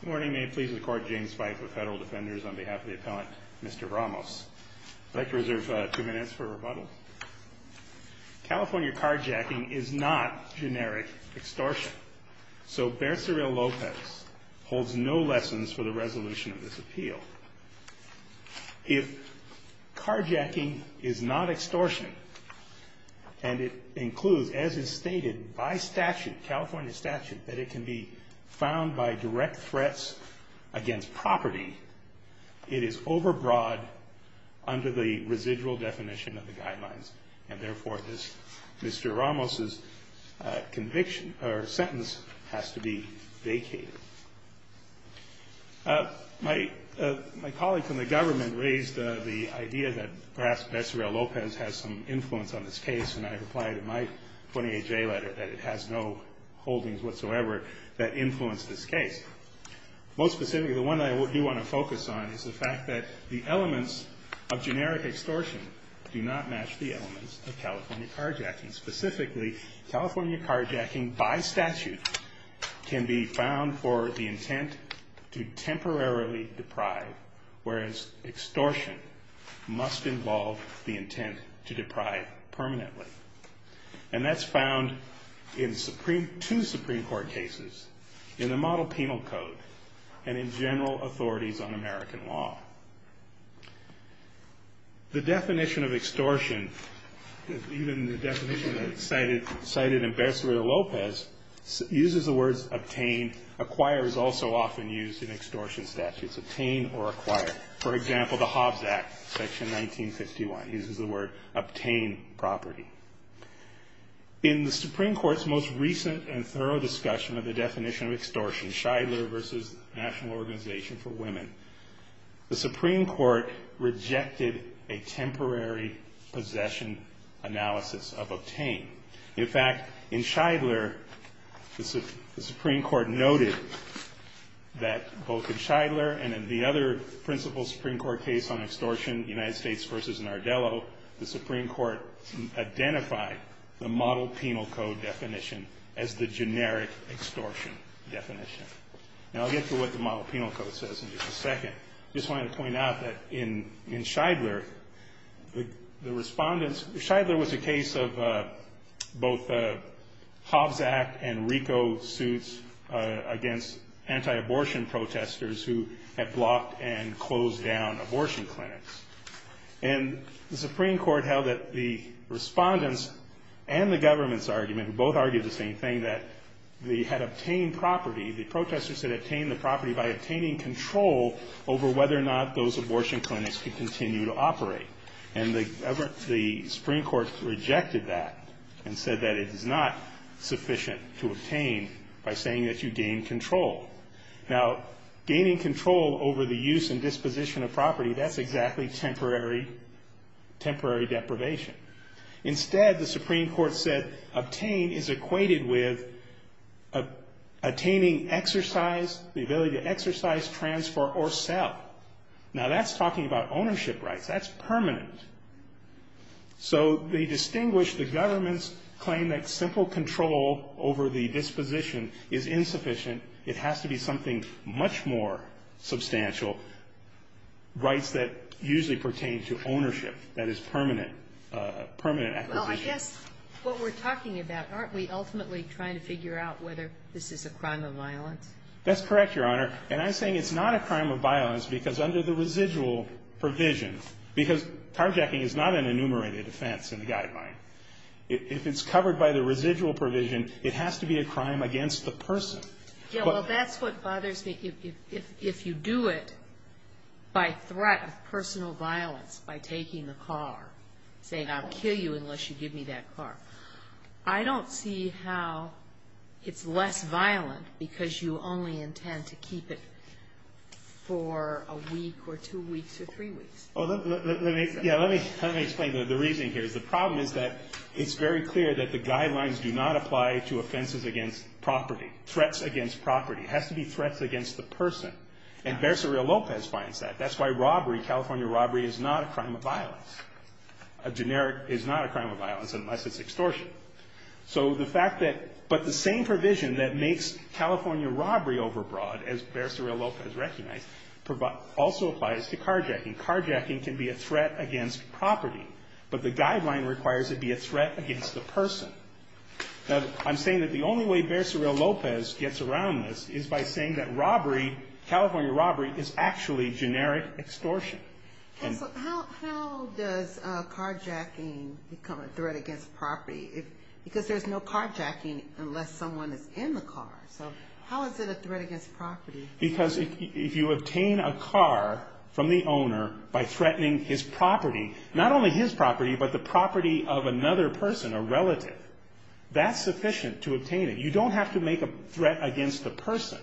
Good morning, may it please the court, James Fife with Federal Defenders on behalf of the appellant, Mr. Ramos. I'd like to reserve two minutes for rebuttal. California carjacking is not generic extortion. So, Becerril Lopez holds no lessons for the resolution of this appeal. If carjacking is not extortion, and it includes, as is stated by statute, California statute, that it can be found by direct threats against property, it is overbroad under the residual definition of the guidelines. And therefore, Mr. Ramos' conviction or sentence has to be vacated. My colleagues in the government raised the idea that perhaps Becerril Lopez has some influence on this case, and I replied in my 28-J letter that it has no holdings whatsoever that influence this case. Most specifically, the one I do want to focus on is the fact that the elements of generic extortion do not match the elements of California carjacking. Specifically, California carjacking by statute can be found for the intent to temporarily deprive, whereas extortion must involve the intent to deprive permanently. And that's found in two Supreme Court cases, in the model penal code, and in general authorities on American law. The definition of extortion, even the definition cited in Becerril Lopez, uses the words obtain. Acquire is also often used in extortion statutes. Obtain or acquire. For example, the Hobbs Act, section 1951, uses the word obtain property. In the Supreme Court's most recent and thorough discussion of the definition of extortion, in Shidler v. National Organization for Women, the Supreme Court rejected a temporary possession analysis of obtain. In fact, in Shidler, the Supreme Court noted that both in Shidler and in the other principal Supreme Court case on extortion, United States v. Nardello, the Supreme Court identified the model penal code definition as the generic extortion definition. Now, I'll get to what the model penal code says in just a second. I just wanted to point out that in Shidler, the respondents, Shidler was a case of both Hobbs Act and RICO suits against anti-abortion protesters who had blocked and closed down abortion clinics. And the Supreme Court held that the respondents and the government's argument, who both argued the same thing, that they had obtained property, the protesters had obtained the property by obtaining control over whether or not those abortion clinics could continue to operate. And the Supreme Court rejected that and said that it is not sufficient to obtain by saying that you gain control. Now, gaining control over the use and disposition of property, that's exactly temporary deprivation. Instead, the Supreme Court said obtain is equated with attaining exercise, the ability to exercise, transfer, or sell. Now, that's talking about ownership rights. That's permanent. So they distinguished the government's claim that simple control over the disposition is insufficient. It has to be something much more substantial, rights that usually pertain to ownership that is permanent, permanent acquisition. Well, I guess what we're talking about, aren't we ultimately trying to figure out whether this is a crime of violence? That's correct, Your Honor. And I'm saying it's not a crime of violence because under the residual provision, because carjacking is not an enumerated offense in the Guideline, if it's covered by the residual provision, it has to be a crime against the person. Yeah, well, that's what bothers me. If you do it by threat of personal violence, by taking the car, saying I'll kill you unless you give me that car, I don't see how it's less violent because you only intend to keep it for a week or two weeks or three weeks. Yeah, let me explain the reasoning here. The problem is that it's very clear that the Guidelines do not apply to offenses against property, threats against property. It has to be threats against the person. And Becerra-Lopez finds that. That's why robbery, California robbery, is not a crime of violence. A generic is not a crime of violence unless it's extortion. But the same provision that makes California robbery overbroad, as Becerra-Lopez recognized, also applies to carjacking. Carjacking can be a threat against property, but the Guideline requires it be a threat against the person. Now, I'm saying that the only way Becerra-Lopez gets around this is by saying that robbery, California robbery, is actually generic extortion. How does carjacking become a threat against property? Because there's no carjacking unless someone is in the car. So how is it a threat against property? Because if you obtain a car from the owner by threatening his property, not only his property, but the property of another person, a relative, that's sufficient to obtain it. You don't have to make a threat against the person.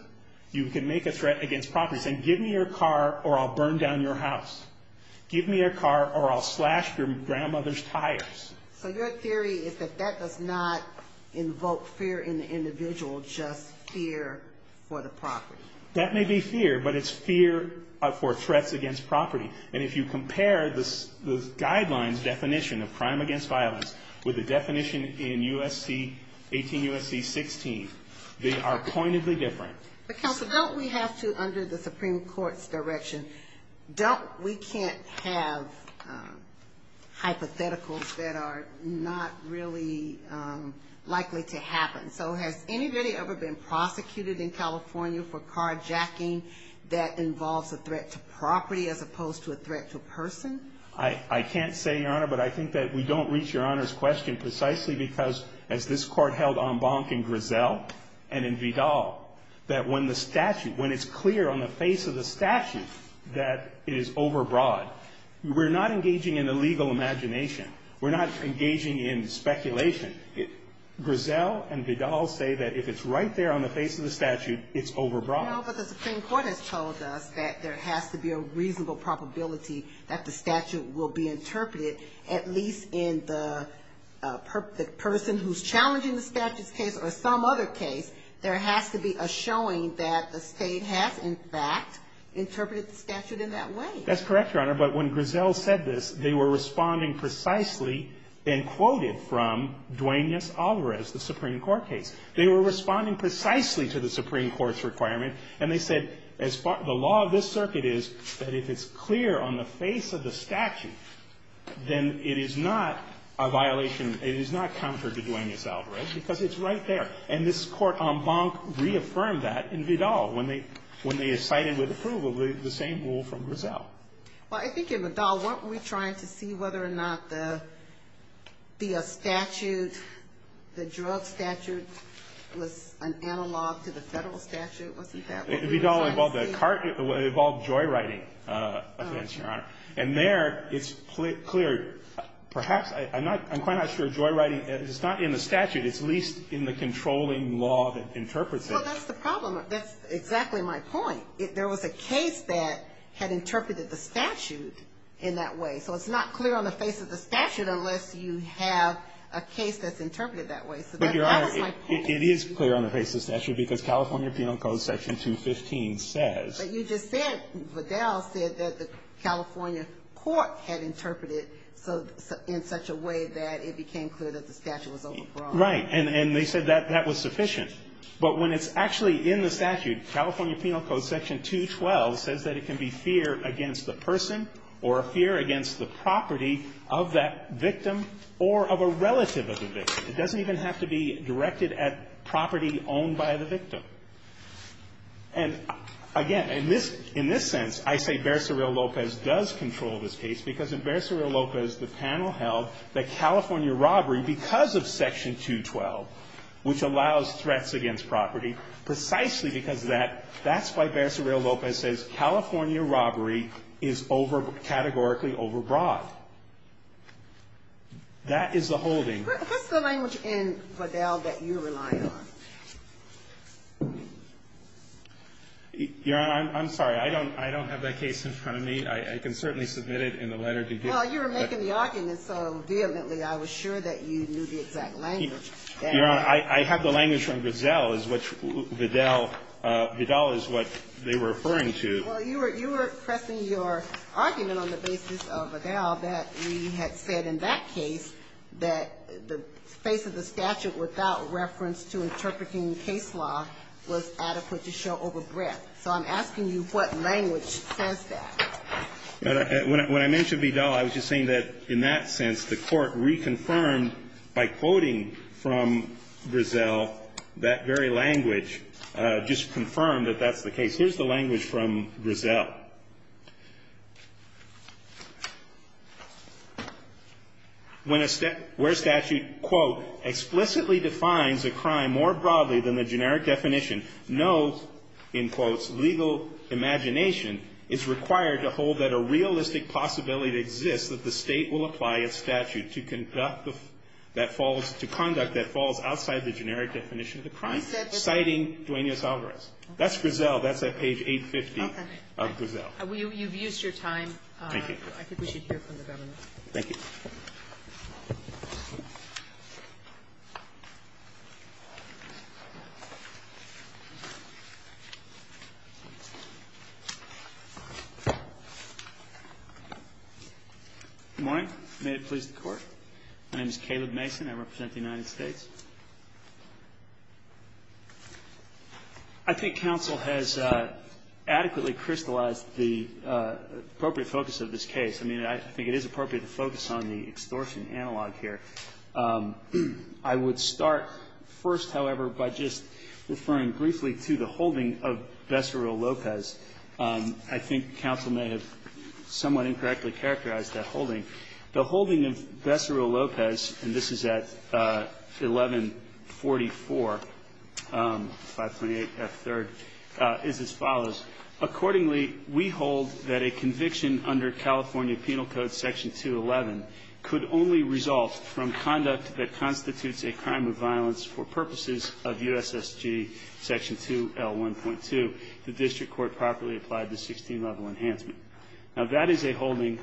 You can make a threat against property saying, give me your car or I'll burn down your house. Give me your car or I'll slash your grandmother's tires. So your theory is that that does not invoke fear in the individual, just fear for the property. That may be fear, but it's fear for threats against property. And if you compare the Guideline's definition of crime against violence with the definition in U.S.C. 18, U.S.C. 16, they are pointedly different. But Counsel, don't we have to, under the Supreme Court's direction, don't we can't have hypotheticals that are not really likely to happen? So has anybody ever been prosecuted in California for carjacking that involves a threat to property as opposed to a threat to a person? I can't say, Your Honor, but I think that we don't reach Your Honor's question precisely because, as this Court held en banc in Griselle and in Vidal, that when the statute, when it's clear on the face of the statute that it is overbroad, we're not engaging in the legal imagination. We're not engaging in speculation. Griselle and Vidal say that if it's right there on the face of the statute, it's overbroad. No, but the Supreme Court has told us that there has to be a reasonable probability that the statute will be interpreted, at least in the person who's challenging the statute's case or some other case, there has to be a showing that the State has, in fact, interpreted the statute in that way. That's correct, Your Honor. But when Griselle said this, they were responding precisely and quoted from Duenas-Alvarez, the Supreme Court case. They were responding precisely to the Supreme Court's requirement. And they said, the law of this circuit is that if it's clear on the face of the statute, then it is not a violation, it is not counter to Duenas-Alvarez because it's right there. And this Court en banc reaffirmed that in Vidal when they cited with approval the same rule from Griselle. Well, I think in Vidal, weren't we trying to see whether or not the statute, the drug statute, was an analog to the Federal statute? Wasn't that what we were trying to see? Vidal involved a cart, it involved joyriding offense, Your Honor. And there, it's clear. Perhaps, I'm not, I'm quite not sure joyriding, it's not in the statute. It's at least in the controlling law that interprets it. Well, that's the problem. That's exactly my point. There was a case that had interpreted the statute in that way. So it's not clear on the face of the statute unless you have a case that's interpreted that way. So that was my point. But, Your Honor, it is clear on the face of the statute because California Penal Code Section 215 says. But you just said, Vidal said that the California court had interpreted in such a way that it became clear that the statute was overgrown. Right. And they said that that was sufficient. But when it's actually in the statute, California Penal Code Section 212 says that it can be fear against the person or a fear against the property of that victim or of a relative of the victim. It doesn't even have to be directed at property owned by the victim. And, again, in this sense, I say Becerril-Lopez does control this case because in Becerril-Lopez, the panel held that California robbery, because of Section 212, which allows threats against property, precisely because of that, that's why Becerril-Lopez says California robbery is categorically overbroad. That is the holding. What's the language in Vidal that you're relying on? Your Honor, I'm sorry. I don't have that case in front of me. I can certainly submit it in the letter to you. Well, you were making the argument so vehemently I was sure that you knew the exact language. Your Honor, I have the language from Becerril-Lopez, which Vidal is what they were referring to. Well, you were pressing your argument on the basis of Vidal that we had said in that case that the face of the statute without reference to interpreting case law was adequate to show overbreadth. So I'm asking you what language says that. When I mentioned Vidal, I was just saying that in that sense, the Court reconfirmed by quoting from Brezel that very language, just confirmed that that's the case. Here's the language from Brezel. When a statute, quote, explicitly defines a crime more broadly than the generic definition, no, in quotes, legal imagination is required to hold that a realistic possibility exists that the State will apply a statute to conduct that falls outside the generic definition of the crime, citing Duenas-Alvarez. That's Brezel. That's at page 850 of Brezel. You've used your time. Thank you. I think we should hear from the Governor. Thank you. Good morning. May it please the Court. My name is Caleb Mason. I represent the United States. I think counsel has adequately crystallized the appropriate focus of this case. I mean, I think it is appropriate to focus on the extortion analog here. I would start first, however, by just referring briefly to the holding of Becerril-Lopez. I think counsel may have somewhat incorrectly characterized that holding. The holding of Becerril-Lopez, and this is at 1144, 528F3rd, is as follows. Accordingly, we hold that a conviction under California Penal Code Section 211 could only result from conduct that constitutes a crime of violence for purposes of USSG Section 2L1.2. The district court properly applied the 16-level enhancement. Now, that is a holding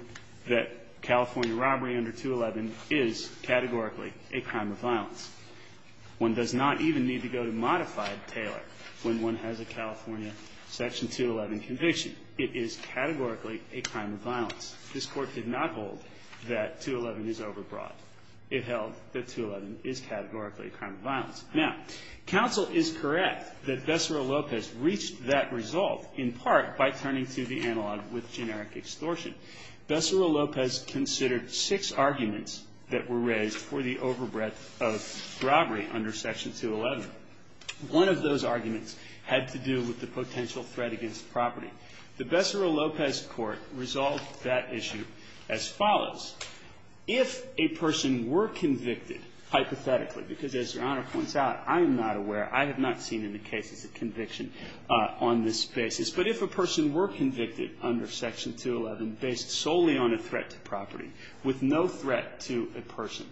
that California robbery under 211 is categorically a crime of violence. One does not even need to go to modified Taylor when one has a California Section 211 conviction. It is categorically a crime of violence. This Court did not hold that 211 is overbroad. It held that 211 is categorically a crime of violence. Now, counsel is correct that Becerril-Lopez reached that result in part by turning to the analog with generic extortion. Becerril-Lopez considered six arguments that were raised for the overbreadth of robbery under Section 211. One of those arguments had to do with the potential threat against property. The Becerril-Lopez Court resolved that issue as follows. If a person were convicted hypothetically, because as Your Honor points out, I am not aware, I have not seen in the cases a conviction on this basis, but if a person were convicted under Section 211 based solely on a threat to property with no threat to a person,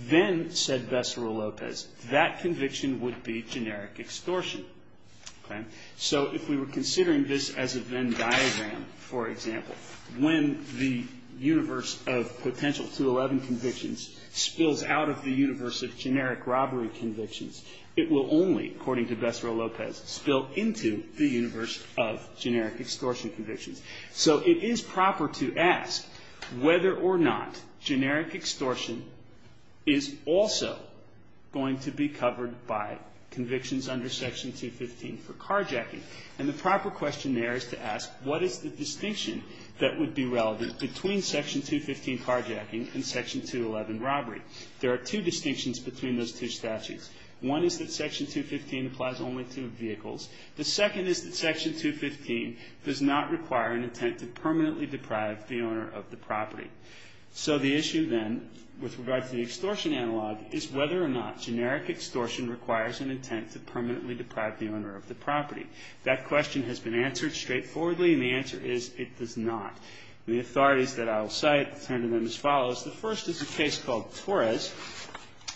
then, said Becerril-Lopez, that conviction would be generic extortion. Okay? So if we were considering this as a Venn diagram, for example, when the universe of potential 211 convictions spills out of the universe of generic robbery convictions, it will only, according to Becerril-Lopez, spill into the universe of generic extortion convictions. So it is proper to ask whether or not generic extortion is also going to be covered by convictions under Section 215 for carjacking. And the proper question there is to ask, what is the distinction that would be relevant between Section 215 carjacking and Section 211 robbery? There are two distinctions between those two statutes. One is that Section 215 applies only to vehicles. The second is that Section 215 does not require an intent to permanently deprive the owner of the property. So the issue then with regard to the extortion analog is whether or not generic extortion requires an intent to permanently deprive the owner of the property. That question has been answered straightforwardly, and the answer is it does not. The authorities that I will cite tend to them as follows. The first is a case called Torres.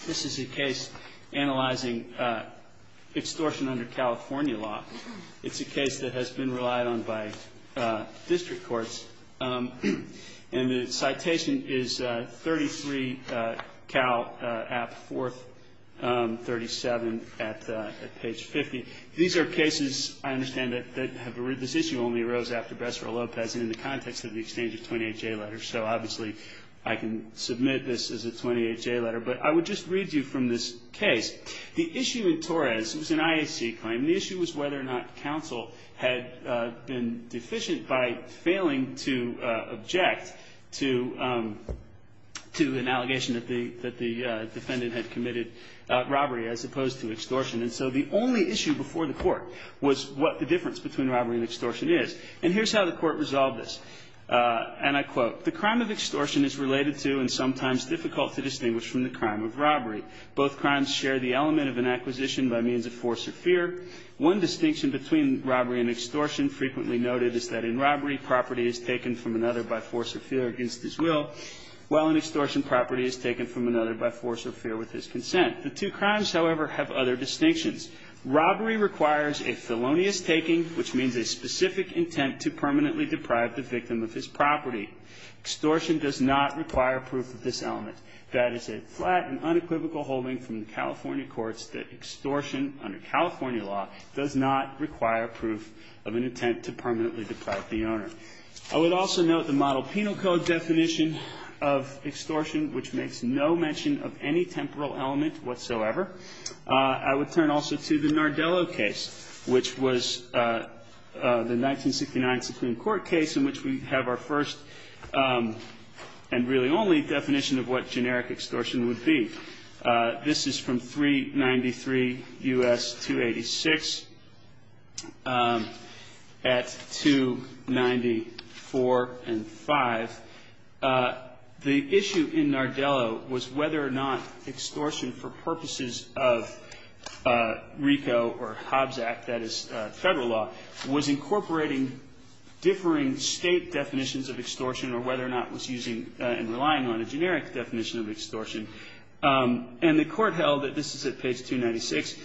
This is a case analyzing extortion under California law. It's a case that has been relied on by district courts. And the citation is 33 Cal. App. 437 at page 50. These are cases, I understand, that have arisen or only arose after Becerril-Lopez in the context of the exchange of 28J letters. So obviously I can submit this as a 28J letter. But I would just read you from this case. The issue in Torres was an IAC claim. The issue was whether or not counsel had been deficient by failing to object to an allegation that the defendant had committed robbery as opposed to extortion. And so the only issue before the court was what the difference between robbery and extortion is. And here's how the court resolved this, and I quote, The crime of extortion is related to and sometimes difficult to distinguish from the crime of robbery. Both crimes share the element of an acquisition by means of force or fear. One distinction between robbery and extortion frequently noted is that in robbery property is taken from another by force or fear against his will, while in extortion property is taken from another by force or fear with his consent. The two crimes, however, have other distinctions. Robbery requires a felonious taking, which means a specific intent to permanently deprive the victim of his property. Extortion does not require proof of this element. That is a flat and unequivocal holding from the California courts that extortion under California law does not require proof of an intent to permanently deprive the owner. I would also note the Model Penal Code definition of extortion, which makes no mention of any temporal element whatsoever. I would turn also to the Nardello case, which was the 1969 Supreme Court case in which we have our first and really only definition of what generic extortion would be. This is from 393 U.S. 286 at 294 and 5. The issue in Nardello was whether or not extortion for purposes of RICO or Hobbs Act, that is Federal law, was incorporating differing State definitions of extortion or whether or not it was using and relying on a generic definition of extortion. And the Court held that this is at page 296.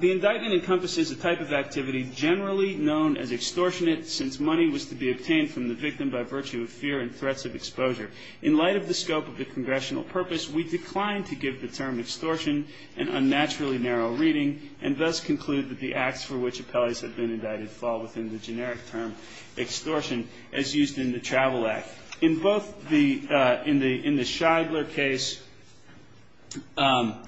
The indictment encompasses a type of activity generally known as extortionate since money was to be obtained from the victim by virtue of fear and threats of exposure. In light of the scope of the Congressional purpose, we decline to give the term extortion an unnaturally narrow reading and thus conclude that the acts for which appellees have been indicted fall within the generic term extortion as used in the Travel Act. In both the, in the Shidler case and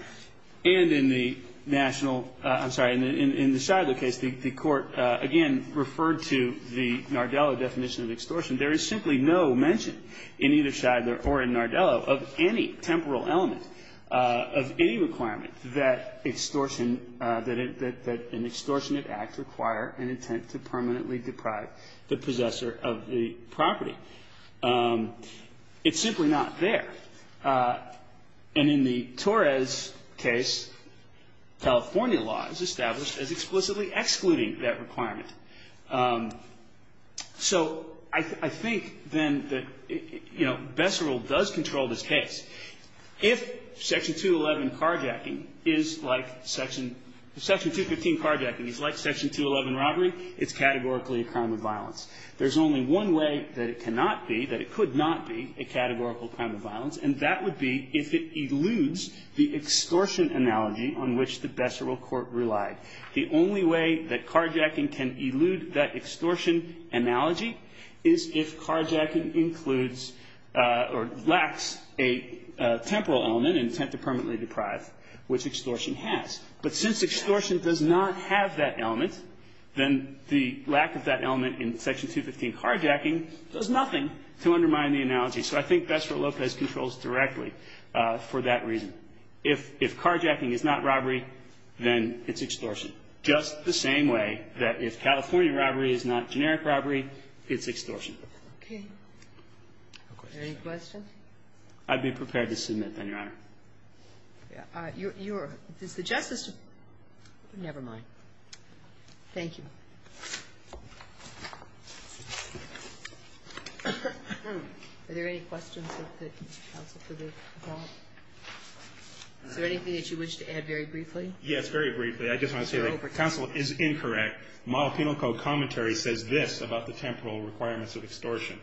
in the national, I'm sorry, in the Shidler case, the Court again referred to the Nardello definition of extortion. There is simply no mention in either Shidler or in Nardello of any temporal element of any requirement that extortion, that an extortionate act require an intent to permanently deprive the possessor of the property. It's simply not there. And in the Torres case, California law is established as explicitly excluding that requirement. So I think then that, you know, Besserill does control this case. If Section 211 carjacking is like Section, Section 215 carjacking is like Section 211 robbery, it's categorically a crime of violence. There's only one way that it cannot be, that it could not be a categorical crime of violence, and that would be if it eludes the extortion analogy on which the Besserill Court relied. The only way that carjacking can elude that extortion analogy is if carjacking includes or lacks a temporal element, an intent to permanently deprive, which extortion has. But since extortion does not have that element, then the lack of that element So I think Besserill Lopez controls directly for that reason. If carjacking is not robbery, then it's extortion, just the same way that if California robbery is not generic robbery, it's extortion. Okay. Any questions? I'd be prepared to submit, then, Your Honor. You're the Justice. Never mind. Thank you. Are there any questions of the counsel for the appellate? Is there anything that you wish to add very briefly? Yes, very briefly. I just want to say counsel is incorrect. Model Penal Code commentary says this about the temporal requirements of extortion.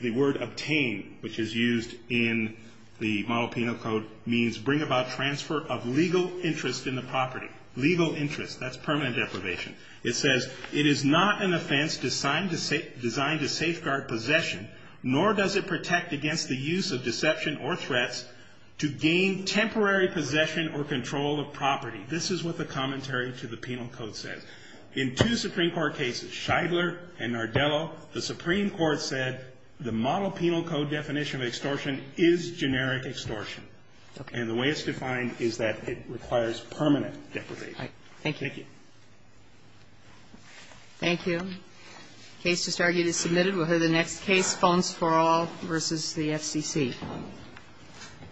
The word obtain, which is used in the Model Penal Code, means bring about transfer of legal interest in the property. Legal interest, that's permanent deprivation. It says it is not an offense designed to safeguard possession, nor does it protect against the use of deception or threats to gain temporary possession or control of property. This is what the commentary to the Penal Code says. In two Supreme Court cases, Scheidler and Nardello, the Supreme Court said the Model Penal Code definition of extortion is generic extortion. Thank you. Thank you. The case just argued is submitted. We'll hear the next case, Phones for All v. the FCC.